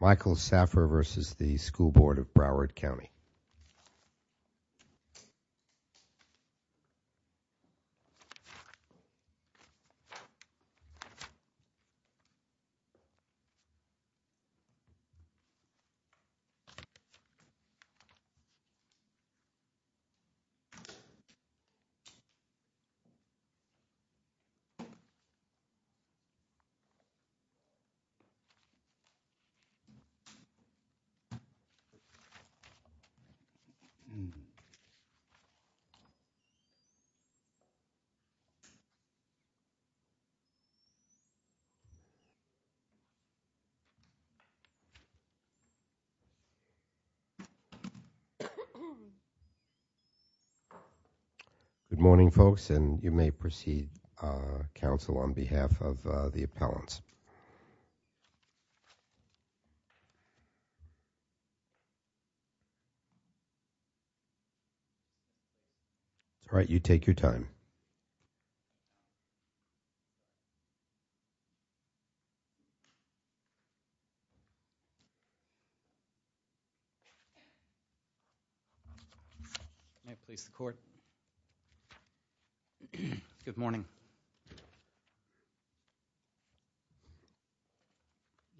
Michael Saphir v. The School Board of Broward County Good morning, folks. And you may proceed, Council, on behalf of the appellants. All right, you take your time. May I please the court? Good morning.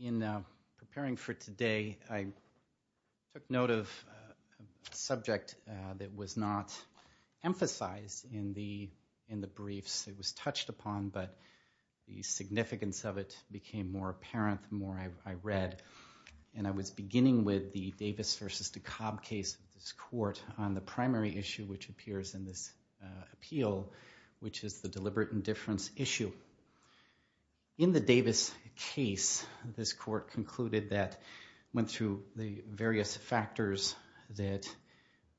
In preparing for today, I took note of a subject that was not emphasized in the briefs. It was touched upon, but the significance of it became more apparent the more I read. And I was beginning with the Davis v. DeKalb case of this court on the primary issue which appears in this appeal, which is the deliberate indifference issue. In the Davis case, this court concluded that it went through the various factors that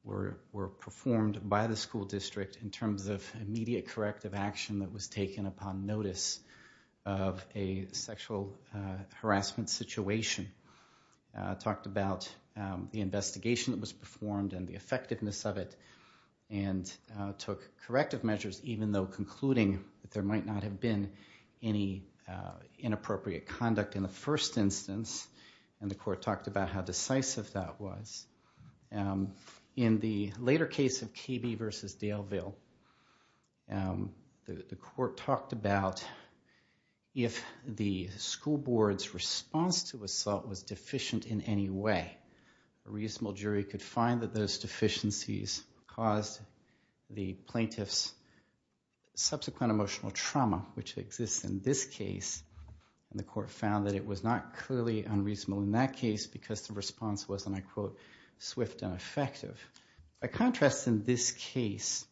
were performed by the school district in terms of immediate corrective action that was taken upon notice of a sexual harassment situation, talked about the investigation that was performed and the effectiveness of it, and took corrective measures even though concluding that there might not have been any inappropriate conduct in the first instance. And the court talked about how decisive that was. In the later case of KB v. Daleville, the court talked about if the school board's response to assault was deficient in any way, a reasonable jury could find that those deficiencies caused the plaintiff's subsequent emotional trauma, which exists in this case. And the court found that it was not clearly unreasonable in that case because the response was, and I quote, swift and effective. By contrast, in this case,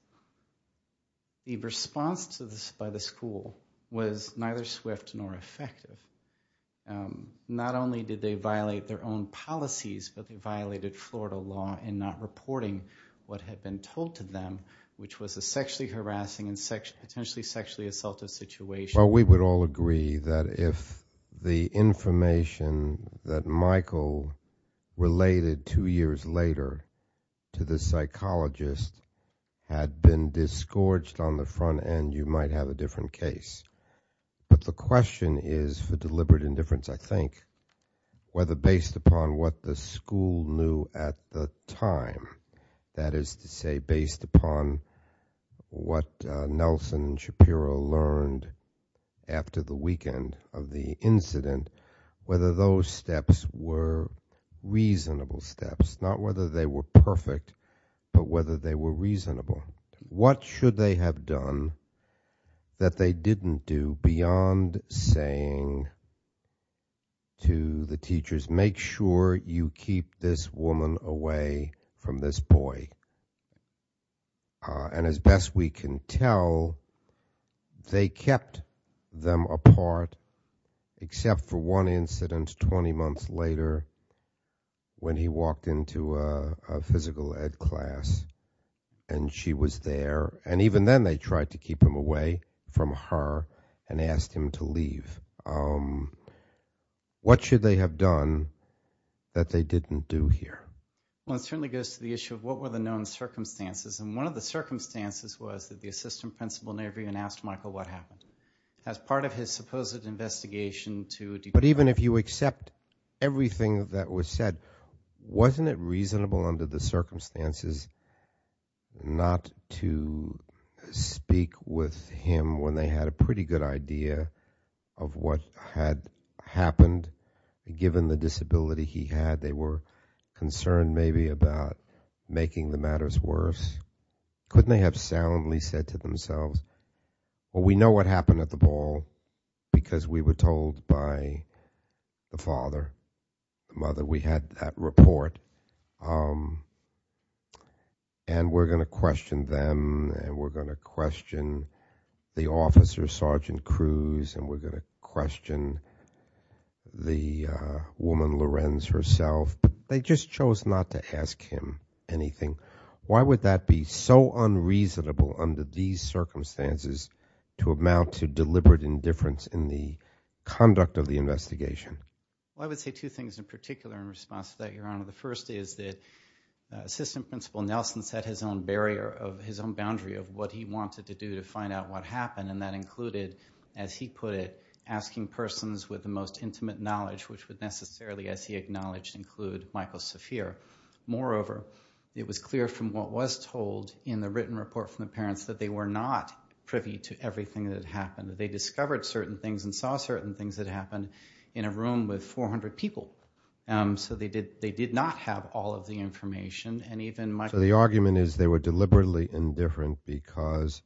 the response by the school was neither swift nor effective. Not only did they violate their own policies, but they violated Florida law in not reporting what had been told to them, which was a sexually harassing and potentially sexually assaultive situation. Well, we would all agree that if the information that Michael related two years later to the psychologist had been disgorged on the front end, you might have a different case. But the question is for deliberate indifference, I think, whether based upon what the school knew at the time, that is to say, based upon what Nelson Shapiro learned after the weekend of the incident, whether those steps were reasonable steps. Not whether they were perfect, but whether they were reasonable. What should they have done that they didn't do beyond saying to the teachers, make sure you keep this woman away from this boy? And as best we can tell, they kept them apart, except for one incident 20 months later when he walked into a physical ed class and she was there. And even then they tried to keep him away from her and asked him to leave. What should they have done that they didn't do here? Well, it certainly goes to the issue of what were the known circumstances. And one of the circumstances was that the assistant principal never even asked Michael what happened. But even if you accept everything that was said, wasn't it reasonable under the circumstances not to speak with him when they had a pretty good idea of what had happened? Given the disability he had, they were concerned maybe about making the matters worse. Couldn't they have soundly said to themselves, well, we know what happened at the ball because we were told by the father, the mother. We had that report and we're going to question them and we're going to question the officer, Sergeant Cruz, and we're going to question the woman, Lorenz, herself. They just chose not to ask him anything. Why would that be so unreasonable under these circumstances to amount to deliberate indifference in the conduct of the investigation? Well, I would say two things in particular in response to that, Your Honor. The first is that Assistant Principal Nelson set his own barrier, his own boundary of what he wanted to do to find out what happened. And that included, as he put it, asking persons with the most intimate knowledge, which would necessarily, as he acknowledged, include Michael Saphir. Moreover, it was clear from what was told in the written report from the parents that they were not privy to everything that had happened. They discovered certain things and saw certain things that happened in a room with 400 people. So they did not have all of the information. So the argument is they were deliberately indifferent because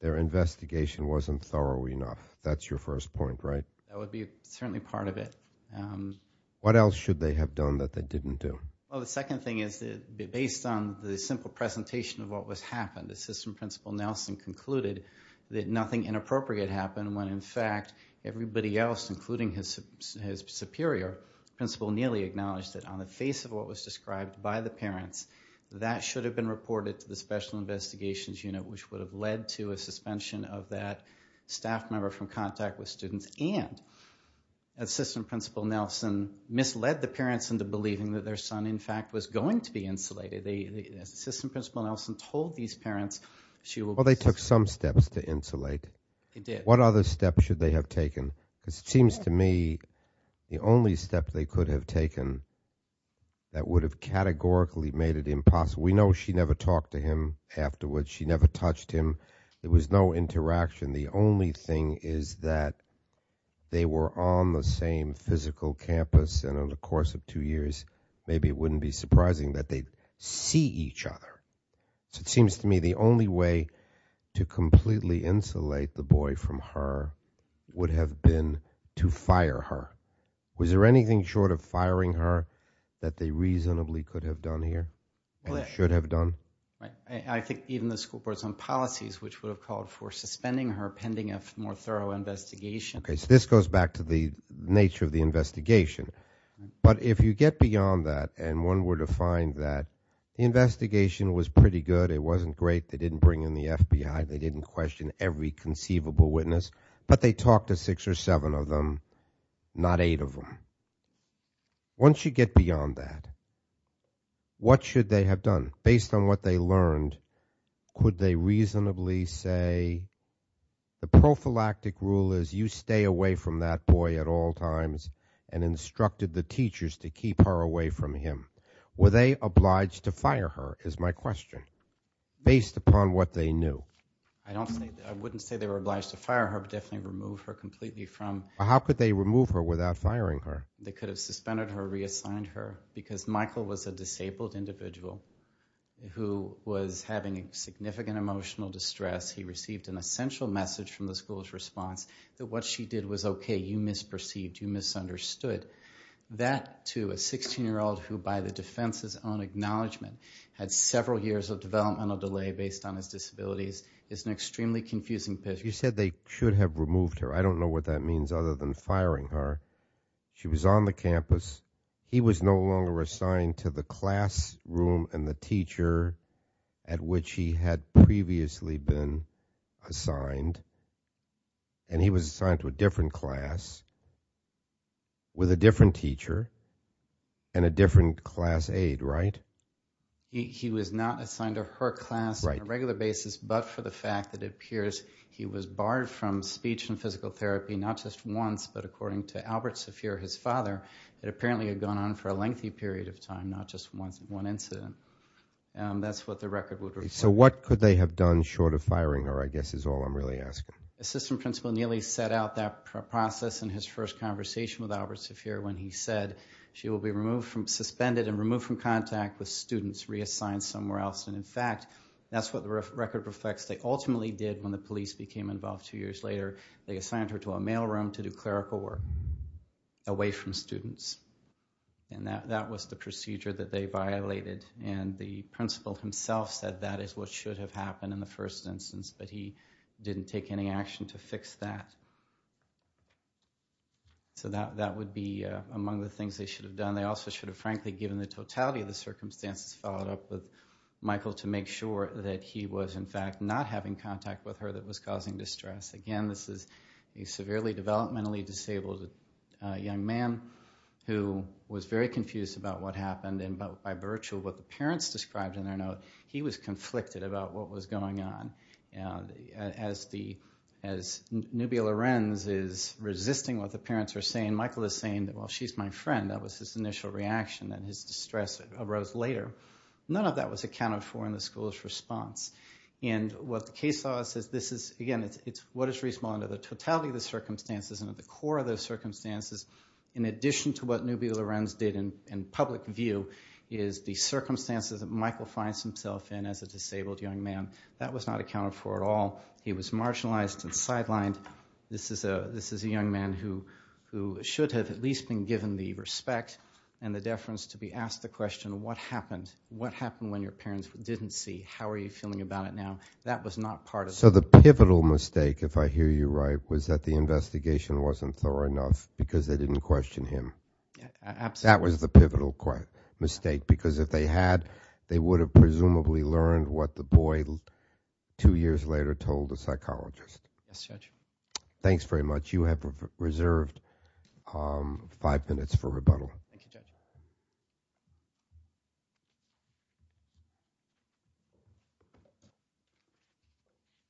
their investigation wasn't thorough enough. That's your first point, right? That would be certainly part of it. What else should they have done that they didn't do? Well, the second thing is that based on the simple presentation of what was happened, Assistant Principal Nelson concluded that nothing inappropriate happened when, in fact, everybody else, including his superior principal, nearly acknowledged that on the face of what was described by the parents, that should have been reported to the Special Investigations Unit, which would have led to a suspension of that staff member from contact with students and Assistant Principal Nelson misled the parents into believing that their son, in fact, was going to be insulated. Assistant Principal Nelson told these parents she will be suspended. Well, they took some steps to insulate. They did. What other steps should they have taken? Because it seems to me the only step they could have taken that would have categorically made it impossible. We know she never talked to him afterwards. She never touched him. There was no interaction. The only thing is that they were on the same physical campus, and in the course of two years, maybe it wouldn't be surprising that they'd see each other. So it seems to me the only way to completely insulate the boy from her would have been to fire her. Was there anything short of firing her that they reasonably could have done here and should have done? I think even the school board's own policies, which would have called for suspending her pending a more thorough investigation. This goes back to the nature of the investigation, but if you get beyond that and one were to find that the investigation was pretty good, it wasn't great, they didn't bring in the FBI, they didn't question every conceivable witness, but they talked to six or seven of them, not eight of them. Once you get beyond that, what should they have done? Based on what they learned, could they reasonably say, the prophylactic rule is you stay away from that boy at all times and instructed the teachers to keep her away from him. Were they obliged to fire her, is my question, based upon what they knew? I wouldn't say they were obliged to fire her, but definitely remove her completely from... How could they remove her without firing her? They could have suspended her, reassigned her, because Michael was a disabled individual who was having significant emotional distress. He received an essential message from the school's response that what she did was okay, you misperceived, you misunderstood. That, to a 16-year-old who by the defense's own acknowledgement had several years of developmental delay based on his disabilities, is an extremely confusing picture. You said they should have removed her. I don't know what that means other than firing her. She was on the campus. He was no longer assigned to the classroom and the teacher at which he had previously been assigned, and he was assigned to a different class with a different teacher and a different class aide, right? He was not assigned to her class on a regular basis, but for the fact that it appears he was barred from speech and physical therapy not just once, but according to Albert Saphir, his father, it apparently had gone on for a lengthy period of time, not just one incident. That's what the record would report. So what could they have done short of firing her, I guess, is all I'm really asking. Assistant Principal Neely set out that process in his first conversation with Albert Saphir when he said she will be suspended and removed from contact with students, reassigned somewhere else. And, in fact, that's what the record reflects. They ultimately did when the police became involved two years later. They assigned her to a mail room to do clerical work away from students, and that was the procedure that they violated. And the principal himself said that is what should have happened in the first instance, but he didn't take any action to fix that. So that would be among the things they should have done. They also should have, frankly, given the totality of the circumstances, followed up with Michael to make sure that he was, in fact, not having contact with her that was causing distress. Again, this is a severely developmentally disabled young man who was very confused about what happened, and by virtue of what the parents described in their note, he was conflicted about what was going on. As Nubia Lorenz is resisting what the parents are saying, Michael is saying, well, she's my friend. That was his initial reaction, and his distress arose later. None of that was accounted for in the school's response. And what the case law says, this is, again, it's what is responsible under the totality of the circumstances, and at the core of those circumstances, in addition to what Nubia Lorenz did in public view, is the circumstances that Michael finds himself in as a disabled young man. That was not accounted for at all. He was marginalized and sidelined. This is a young man who should have at least been given the respect and the deference to be asked the question, what happened? What happened when your parents didn't see? How are you feeling about it now? That was not part of it. So the pivotal mistake, if I hear you right, was that the investigation wasn't thorough enough because they didn't question him. Absolutely. That was the pivotal mistake, because if they had, they would have presumably learned what the boy two years later told the psychologist. Yes, Judge. Thanks very much. You have reserved five minutes for rebuttal. Thank you, Judge.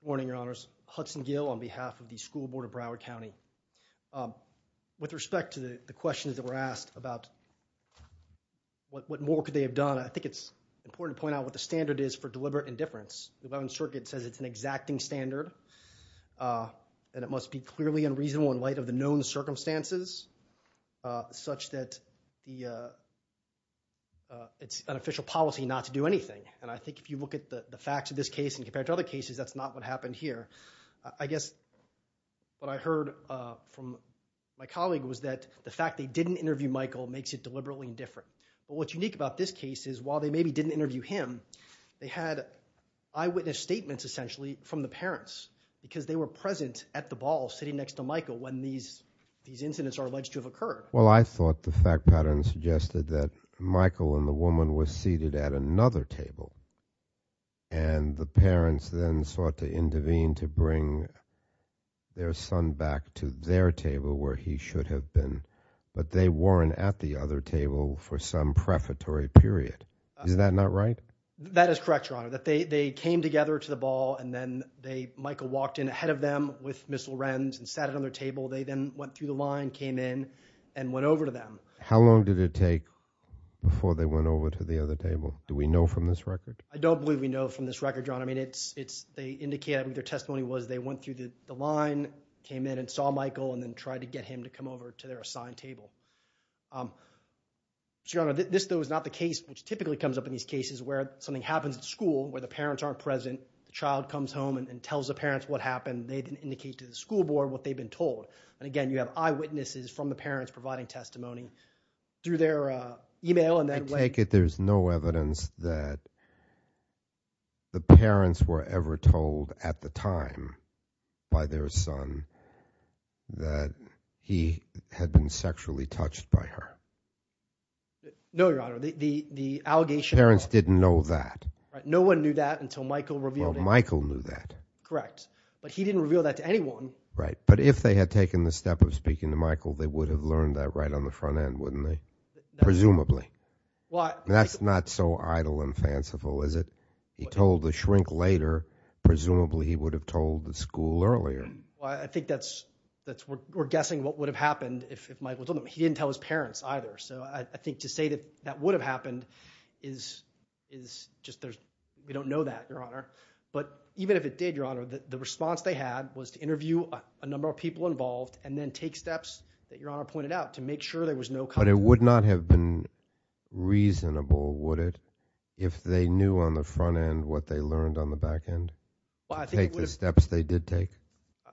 Good morning, Your Honors. Hudson Gill on behalf of the School Board of Broward County. With respect to the questions that were asked about what more could they have done, I think it's important to point out what the standard is for deliberate indifference. The 11th Circuit says it's an exacting standard. And it must be clearly unreasonable in light of the known circumstances, such that it's an official policy not to do anything. And I think if you look at the facts of this case and compare it to other cases, that's not what happened here. I guess what I heard from my colleague was that the fact they didn't interview Michael makes it deliberately indifferent. But what's unique about this case is while they maybe didn't interview him, they had eyewitness statements, essentially, from the parents. Because they were present at the ball, sitting next to Michael, when these incidents are alleged to have occurred. Well, I thought the fact pattern suggested that Michael and the woman were seated at another table. And the parents then sought to intervene to bring their son back to their table where he should have been. But they weren't at the other table for some prefatory period. Is that not right? That is correct, Your Honor. That they came together to the ball and then Michael walked in ahead of them with Miss Lorenz and sat at another table. They then went through the line, came in, and went over to them. How long did it take before they went over to the other table? Do we know from this record? I don't believe we know from this record, Your Honor. I mean, they indicate, I mean, their testimony was they went through the line, came in, and saw Michael and then tried to get him to come over to their assigned table. Your Honor, this, though, is not the case which typically comes up in these cases where something happens at school where the parents aren't present, the child comes home and tells the parents what happened. They then indicate to the school board what they've been told. And again, you have eyewitnesses from the parents providing testimony through their e-mail. I take it there's no evidence that the parents were ever told at the time by their son that he had been sexually touched by her. No, Your Honor. The parents didn't know that. No one knew that until Michael revealed it. Well, Michael knew that. Correct. But he didn't reveal that to anyone. Right. But if they had taken the step of speaking to Michael, they would have learned that right on the front end, wouldn't they? Presumably. That's not so idle and fanciful, is it? He told the shrink later. Presumably, he would have told the school earlier. I think that's, we're guessing what would have happened if Michael told them. He didn't tell his parents either. So I think to say that that would have happened is just, we don't know that, Your Honor. But even if it did, Your Honor, the response they had was to interview a number of people involved and then take steps that Your Honor pointed out to make sure there was no contact. But it would not have been reasonable, would it, if they knew on the front end what they learned on the back end to take the steps they did take?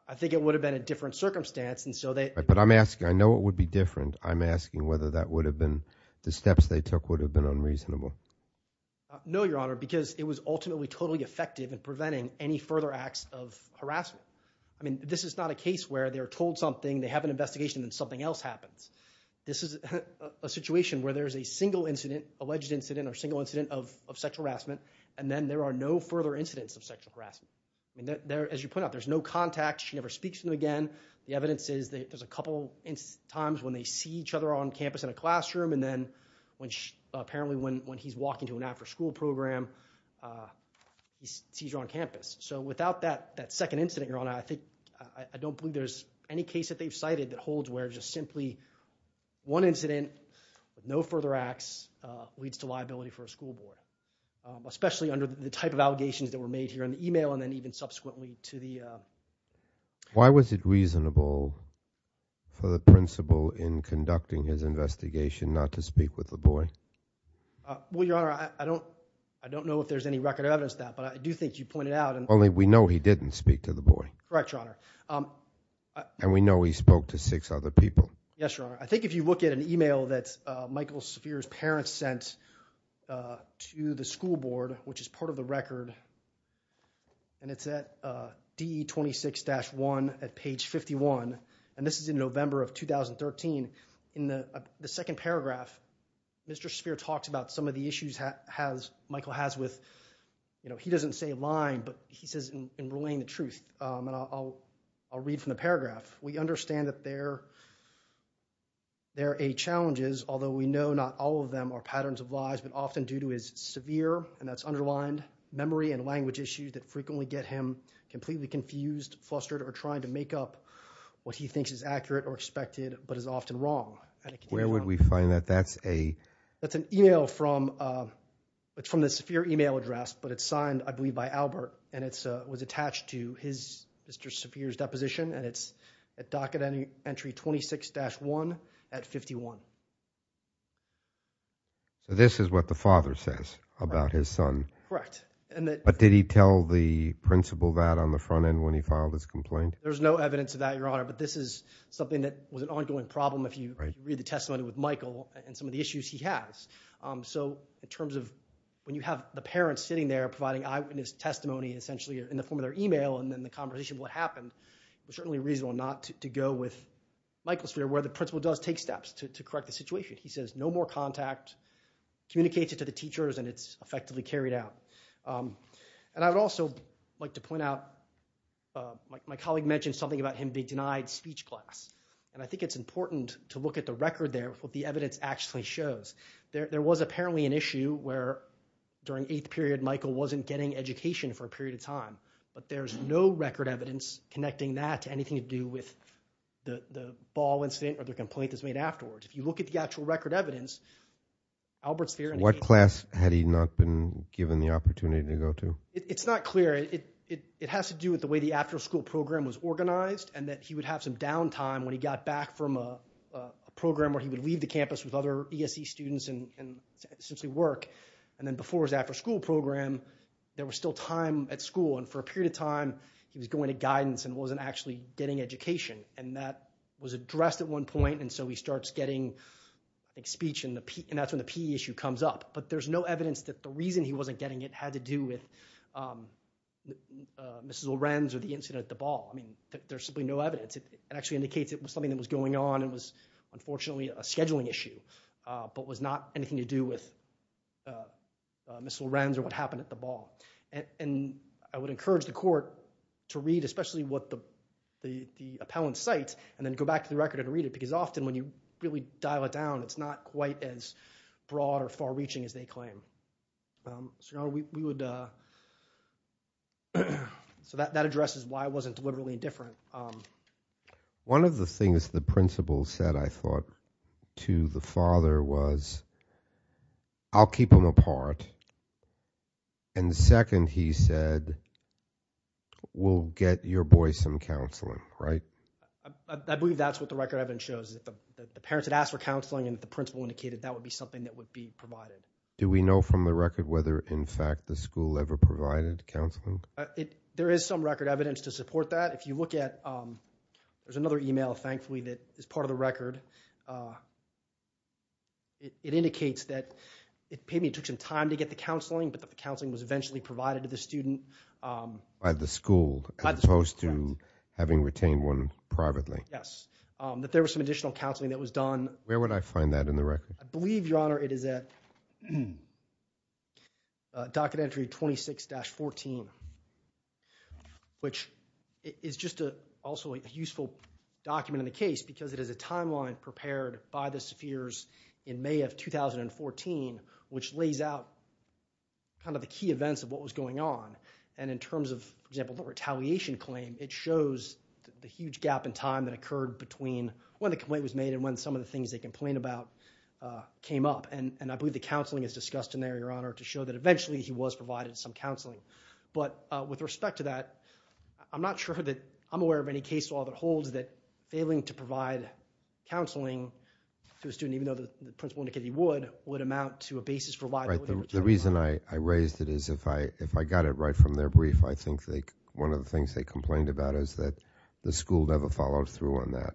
I think it would have been a different circumstance. But I'm asking, I know it would be different. And I'm asking whether that would have been, the steps they took would have been unreasonable. No, Your Honor, because it was ultimately totally effective in preventing any further acts of harassment. I mean, this is not a case where they're told something, they have an investigation, and something else happens. This is a situation where there's a single incident, alleged incident or single incident of sexual harassment, and then there are no further incidents of sexual harassment. As you point out, there's no contact, she never speaks to them again. The evidence is there's a couple times when they see each other on campus in a classroom, and then apparently when he's walking to an after-school program, he sees her on campus. So without that second incident, Your Honor, I don't believe there's any case that they've cited that holds where just simply one incident with no further acts leads to liability for a school board, especially under the type of allegations that were made here in the email and then even subsequently to the... Why was it reasonable for the principal in conducting his investigation not to speak with the boy? Well, Your Honor, I don't know if there's any record evidence of that, but I do think you pointed out... Only we know he didn't speak to the boy. Correct, Your Honor. And we know he spoke to six other people. Yes, Your Honor. I think if you look at an email that Michael Saphir's parents sent to the school board, which is part of the record, and it's at DE26-1 at page 51, and this is in November of 2013. In the second paragraph, Mr. Saphir talks about some of the issues Michael has with... You know, he doesn't say lying, but he says in relaying the truth, and I'll read from the paragraph. We understand that there are eight challenges, although we know not all of them are patterns of lies, but often due to his severe, and that's underlined, memory and language issues that frequently get him completely confused, flustered, or trying to make up what he thinks is accurate or expected, but is often wrong. Where would we find that? That's a... That's an email from... It's from the Saphir email address, but it's signed, I believe, by Albert, and it was attached to Mr. Saphir's deposition, and it's at docket entry 26-1 at 51. So this is what the father says about his son. Correct. But did he tell the principal that on the front end when he filed his complaint? There's no evidence of that, Your Honor, but this is something that was an ongoing problem if you read the testimony with Michael and some of the issues he has. So in terms of... When you have the parents sitting there providing eyewitness testimony, essentially in the form of their email, and then the conversation of what happened, it was certainly reasonable not to go with Michael Saphir, where the principal does take steps to correct the situation. He says no more contact, communicates it to the teachers, and it's effectively carried out. And I would also like to point out, my colleague mentioned something about him being denied speech class, and I think it's important to look at the record there of what the evidence actually shows. There was apparently an issue where during the eighth period, Michael wasn't getting education for a period of time, but there's no record evidence connecting that to anything to do with the ball incident or the complaint that's made afterwards. If you look at the actual record evidence, Albert Saphir... What class had he not been given the opportunity to go to? It's not clear. It has to do with the way the after-school program was organized and that he would have some down time when he got back from a program where he would leave the campus with other ESE students and essentially work. And then before his after-school program, there was still time at school, and for a period of time, he was going to guidance and wasn't actually getting education. And that was addressed at one point, and so he starts getting speech, and that's when the PE issue comes up. But there's no evidence that the reason he wasn't getting it had to do with Mrs. Lorenz or the incident at the ball. I mean, there's simply no evidence. It actually indicates it was something that was going on and was unfortunately a scheduling issue but was not anything to do with Mrs. Lorenz or what happened at the ball. And I would encourage the court to read, especially what the appellant cites, and then go back to the record and read it because often when you really dial it down, it's not quite as broad or far-reaching as they claim. So that addresses why it wasn't literally indifferent. One of the things the principal said, I thought, to the father was, I'll keep him apart, and the second, he said, we'll get your boy some counseling, right? I believe that's what the record evidence shows, that the parents had asked for counseling and the principal indicated that would be something that would be provided. Do we know from the record whether in fact the school ever provided counseling? There is some record evidence to support that. If you look at, there's another email, thankfully, that is part of the record. It indicates that it took some time to get the counseling, but the counseling was eventually provided to the student. By the school, as opposed to having retained one privately. Yes. That there was some additional counseling that was done. Where would I find that in the record? I believe, Your Honor, it is at docket entry 26-14, which is just also a useful document in the case because it is a timeline prepared by the spheres in May of 2014, which lays out kind of the key events of what was going on and in terms of, for example, the retaliation claim, it shows the huge gap in time that occurred between when the complaint was made and when some of the things they complained about came up. And I believe the counseling is discussed in there, Your Honor, to show that eventually he was provided some counseling. But with respect to that, I'm not sure that I'm aware of any case law that holds that failing to provide counseling to a student, even though the principal indicated he would, would amount to a basis for liability. The reason I raised it is if I got it right from their brief, I think one of the things they complained about is that the school never followed through on that.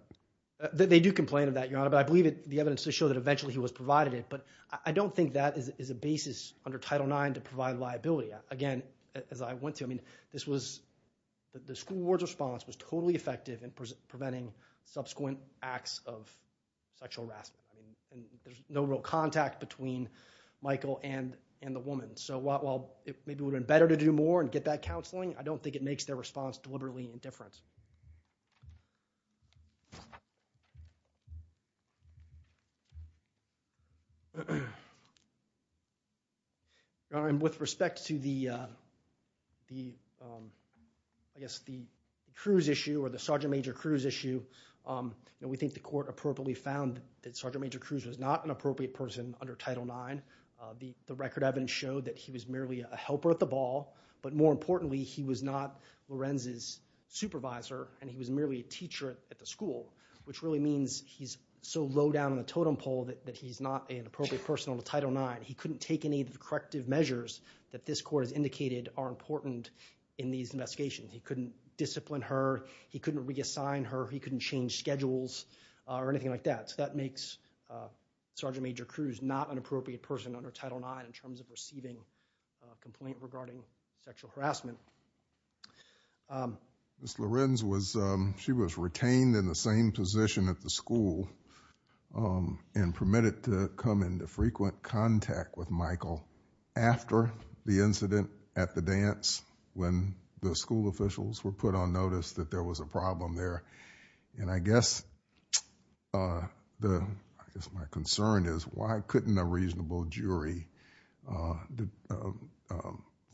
They do complain of that, Your Honor, but I believe the evidence does show that eventually he was provided it. But I don't think that is a basis under Title IX to provide liability. Again, as I went through, I mean, this was, the school board's response was totally effective in preventing subsequent acts of sexual harassment. There's no real contact between Michael and the woman. So while it would have been better to do more and get that counseling, I don't think it makes their response deliberately indifferent. With respect to the, I guess, the Cruz issue or the Sergeant Major Cruz issue, we think the court appropriately found that Sergeant Major Cruz was not an appropriate person under Title IX. The record evidence showed that he was merely a helper at the ball, but more importantly, he was not Lorenz's supervisor and he was merely a teacher at the school, which really means he's so low down in the totem pole that he's not an appropriate person under Title IX. He couldn't take any of the corrective measures that this court has indicated are important in these investigations. He couldn't discipline her. He couldn't reassign her. He couldn't change schedules or anything like that. So that makes Sergeant Major Cruz not an appropriate person under Title IX in terms of receiving a complaint regarding sexual harassment. Ms. Lorenz was, she was retained in the same position at the school and permitted to come into frequent contact with Michael after the incident at the dance when the school officials were put on notice that there was a problem there. And I guess the, I guess my concern is why couldn't a reasonable jury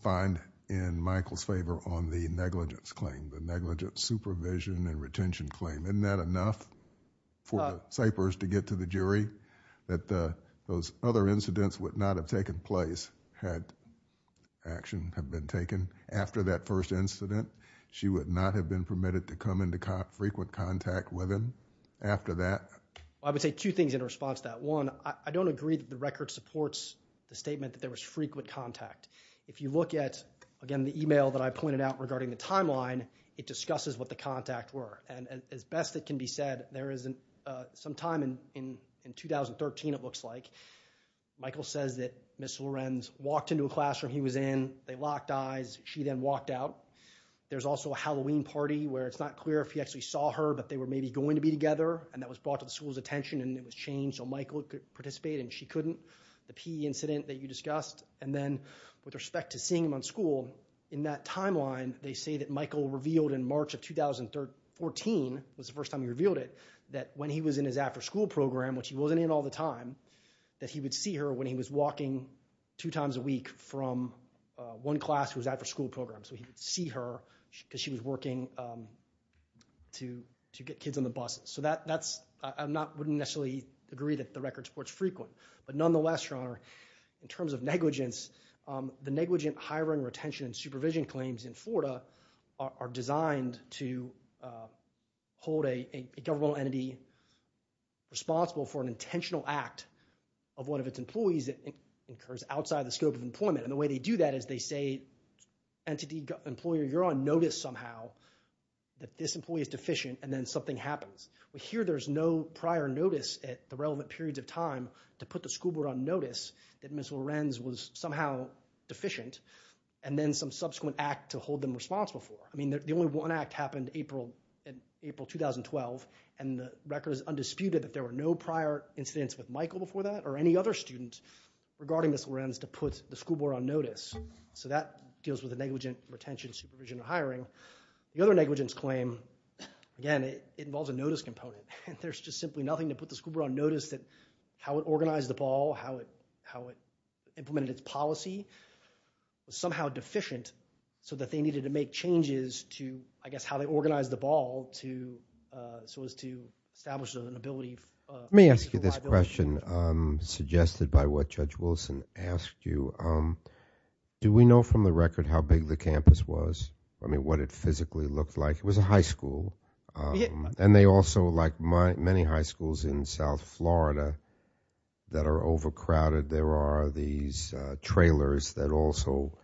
find in Michael's favor on the negligence claim, the negligence supervision and retention claim? Isn't that enough for Cypress to get to the jury that those other incidents would not have taken place had action have been taken after that first incident? She would not have been permitted to come into frequent contact with him after that? I would say two things in response to that. One, I don't agree that the record supports the statement that there was frequent contact. If you look at, again, the email that I pointed out regarding the timeline, it discusses what the contact were. And as best it can be said, there is some time in 2013, it looks like, Michael says that Ms. Lorenz walked into a classroom he was in, they locked eyes, she then walked out. There's also a Halloween party where it's not clear if he actually saw her, but they were maybe going to be together, and that was brought to the school's attention and it was changed so Michael could participate and she couldn't, the P incident that you discussed. And then with respect to seeing him on school, in that timeline, they say that Michael revealed in March of 2014, was the first time he revealed it, that when he was in his after-school program, which he wasn't in all the time, that he would see her when he was walking two times a week from one class who was after-school program. So he would see her because she was working to get kids on the buses. So that's, I'm not, wouldn't necessarily agree that the record supports frequent. But nonetheless, your honor, in terms of negligence, the negligent hiring, retention, and supervision claims in Florida are designed to hold a governmental entity responsible for an intentional act of one of its employees that occurs outside the scope of employment. And the way they do that is they say entity employer, you're on notice somehow that this employee is deficient and then something happens. But here there's no prior notice at the relevant periods of time to put the school board on notice that Ms. Lorenz was somehow deficient and then some subsequent act to hold them responsible for. I mean, the only one act happened April 2012 and the record is undisputed that there were no prior incidents with Michael before that or any other student regarding Ms. Lorenz to put the school board on notice. So that deals with the negligent retention, supervision, and hiring. The other negligence claim, again, it involves a notice component. There's just simply nothing to put the school board on notice that how it organized the ball, how it implemented its policy, was somehow deficient so that they needed to make changes to, I guess, how they organized the ball so as to establish an ability. Let me ask you this question, suggested by what Judge Wilson asked you. Do we know from the record how big the campus was? I mean, what it physically looked like? It was a high school. And they also, like many high schools in South Florida, that are overcrowded, there are these trailers that also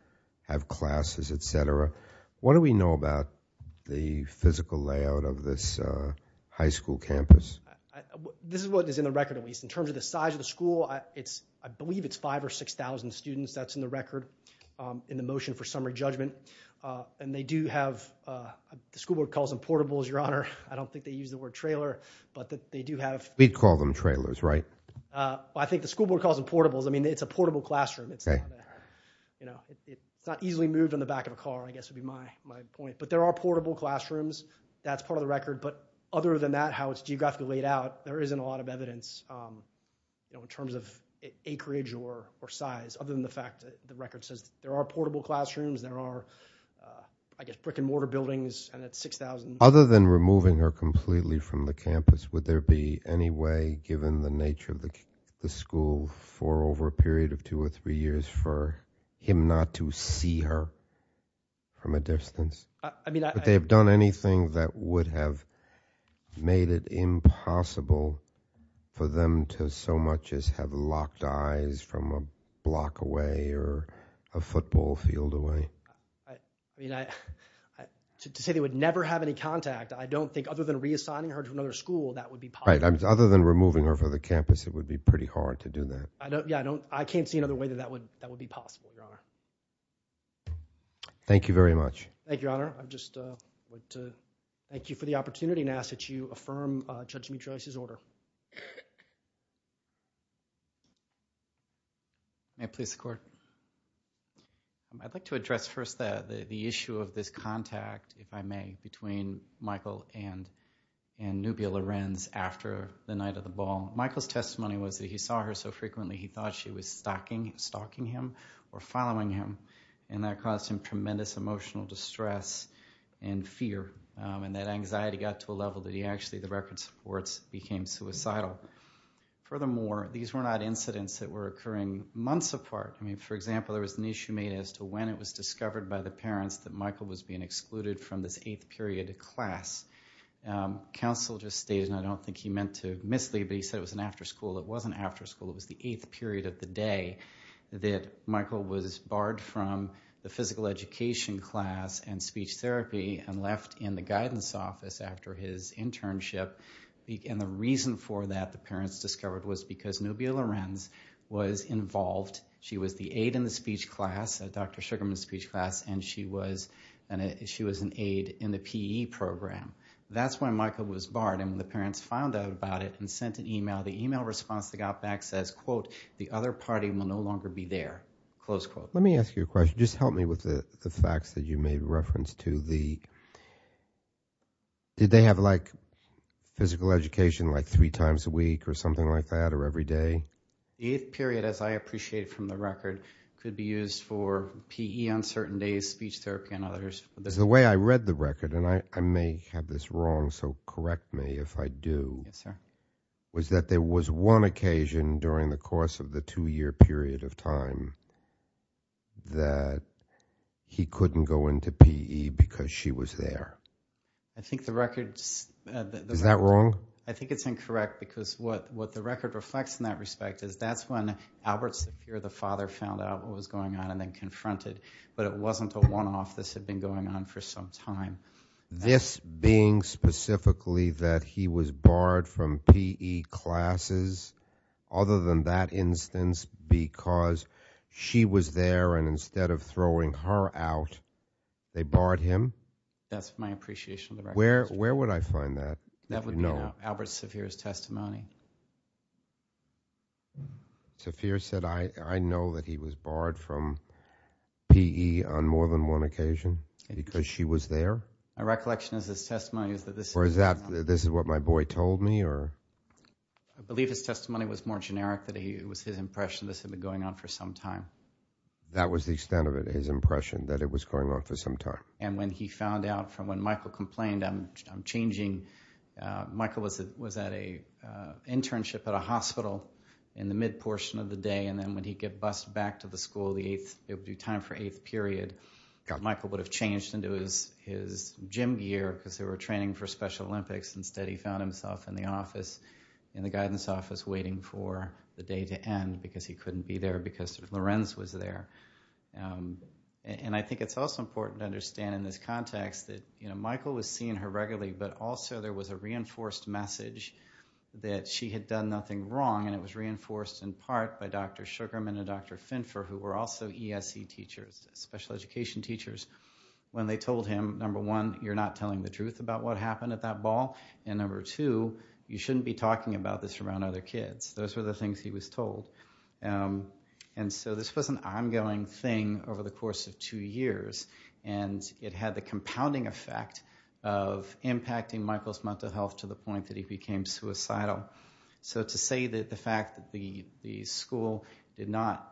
have classes, et cetera. What do we know about the physical layout of this high school campus? This is what is in the record, at least. In terms of the size of the school, I believe it's 5,000 or 6,000 students. That's in the record in the motion for summary judgment. And they do have, the school board calls them portables, Your Honor. I don't think they use the word trailer, but they do have... We'd call them trailers, right? I think the school board calls them portables. I mean, it's a portable classroom. It's not easily moved in the back of a car, I guess would be my point. But there are portable classrooms. That's part of the record. But other than that, how it's geographically laid out, there isn't a lot of evidence in terms of acreage or size, other than the fact that the record says there are portable classrooms, there are, I guess, brick and mortar buildings, and it's 6,000... Other than removing her completely from the campus, would there be any way, given the nature of the school, for over a period of two or three years for him not to see her from a distance? I mean, I... Would they have done anything that would have made it impossible for them to so much as have locked eyes from a block away or a football field away? I mean, I... To say they would never have any contact, I don't think, other than reassigning her to another school, that would be possible. Right, other than removing her from the campus, it would be pretty hard to do that. Yeah, I can't see another way that that would be possible, Your Honor. Thank you very much. Thank you, Your Honor. I'd just like to thank you for the opportunity and ask that you affirm Judge Mitra's order. May I please, the Court? I'd like to address first the issue of this contact, if I may, between Michael and Nubia Lorenz after the night of the ball. Michael's testimony was that he saw her so frequently he thought she was stalking him or following him, and that caused him tremendous emotional distress and fear, and that anxiety got to a level that he actually, the record supports, became suicidal. Furthermore, these were not incidents that were occurring months apart. I mean, for example, there was an issue made as to when it was discovered by the parents that Michael was being excluded from this eighth period of class. Counsel just stated, and I don't think he meant to mislead, but he said it was an after school. It wasn't after school. It was the eighth period of the day that Michael was barred from the physical education class and speech therapy and left in the guidance office after his internship, and the reason for that, the parents discovered, was because Nubia Lorenz was involved. She was the aide in the speech class, Dr. Sugarman's speech class, and she was an aide in the P.E. program. That's when Michael was barred, and when the parents found out about it and sent an email, the email response that got back says, quote, the other party will no longer be there, close quote. Let me ask you a question. Just help me with the facts that you made reference to. Did they have physical education like three times a week or something like that or every day? The eighth period, as I appreciate it from the record, could be used for P.E. on certain days, speech therapy on others. The way I read the record, and I may have this wrong, so correct me if I do, was that there was one occasion during the course of the two-year period of time that he couldn't go into P.E. because she was there. I think the record... Is that wrong? I think it's incorrect because what the record reflects in that respect is that's when Albert Sapir, the father, found out what was going on and then confronted, but it wasn't a one-off. This had been going on for some time. This being specifically that he was barred from P.E. classes other than that instance because she was there and instead of throwing her out, they barred him? That's my appreciation of the record. Where would I find that? That would be in Albert Sapir's testimony. Sapir said, I know that he was barred from P.E. on more than one occasion because she was there? My recollection is his testimony is that this... Or is that, this is what my boy told me? I believe his testimony was more generic, that it was his impression this had been going on for some time. That was the extent of his impression, that it was going on for some time. And when he found out from when Michael complained, I'm changing, Michael was at an internship at a hospital in the mid-portion of the day and then when he got bused back to the school, it would be time for eighth period, Michael would have changed into his gym gear because they were training for Special Olympics. Instead, he found himself in the office, in the guidance office waiting for the day to end because he couldn't be there because Lorenz was there. And I think it's also important to understand in this context that Michael was seeing her regularly but also there was a reinforced message that she had done nothing wrong and it was reinforced in part by Dr. Sugarman and Dr. Finfer who were also ESC teachers, special education teachers, when they told him, number one, you're not telling the truth about what happened at that ball and number two, you shouldn't be talking about this around other kids. Those were the things he was told. And so this was an ongoing thing over the course of two years and it had the compounding effect of impacting Michael's mental health to the point that he became suicidal. So to say that the fact that the school did not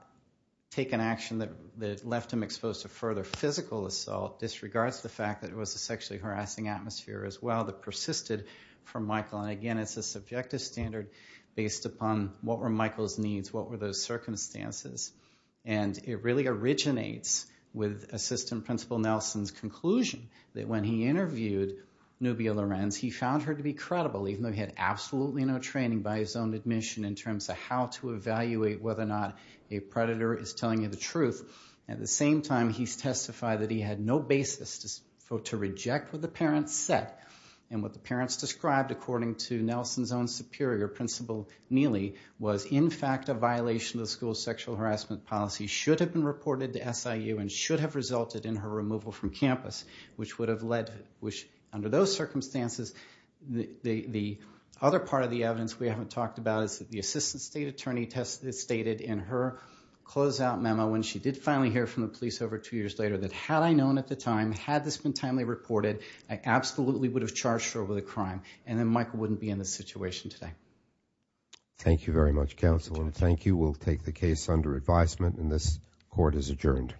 take an action that left him exposed to further physical assault disregards the fact that it was a sexually harassing atmosphere as well that persisted from Michael. And again, it's a subjective standard based upon what were Michael's needs, what were those circumstances. And it really originates with Assistant Principal Nelson's conclusion that when he interviewed Nubia Lorenz, he found her to be credible even though he had absolutely no training by his own admission in terms of how to evaluate whether or not a predator is telling you the truth. At the same time, he testified that he had no basis to reject what the parents said and what the parents described, according to Nelson's own superior, Principal Neely, was in fact a violation of the school's sexual harassment policy, should have been reported to SIU and should have resulted in her removal from campus, which under those circumstances, the other part of the evidence we haven't talked about is that the Assistant State Attorney stated in her closeout memo when she did finally hear from the police over two years later that had I known at the time, had this been timely reported, I absolutely would have charged her with a crime and then Michael wouldn't be in this situation today. Thank you very much, Counsel. Thank you. We'll take the case under advisement and this court is adjourned.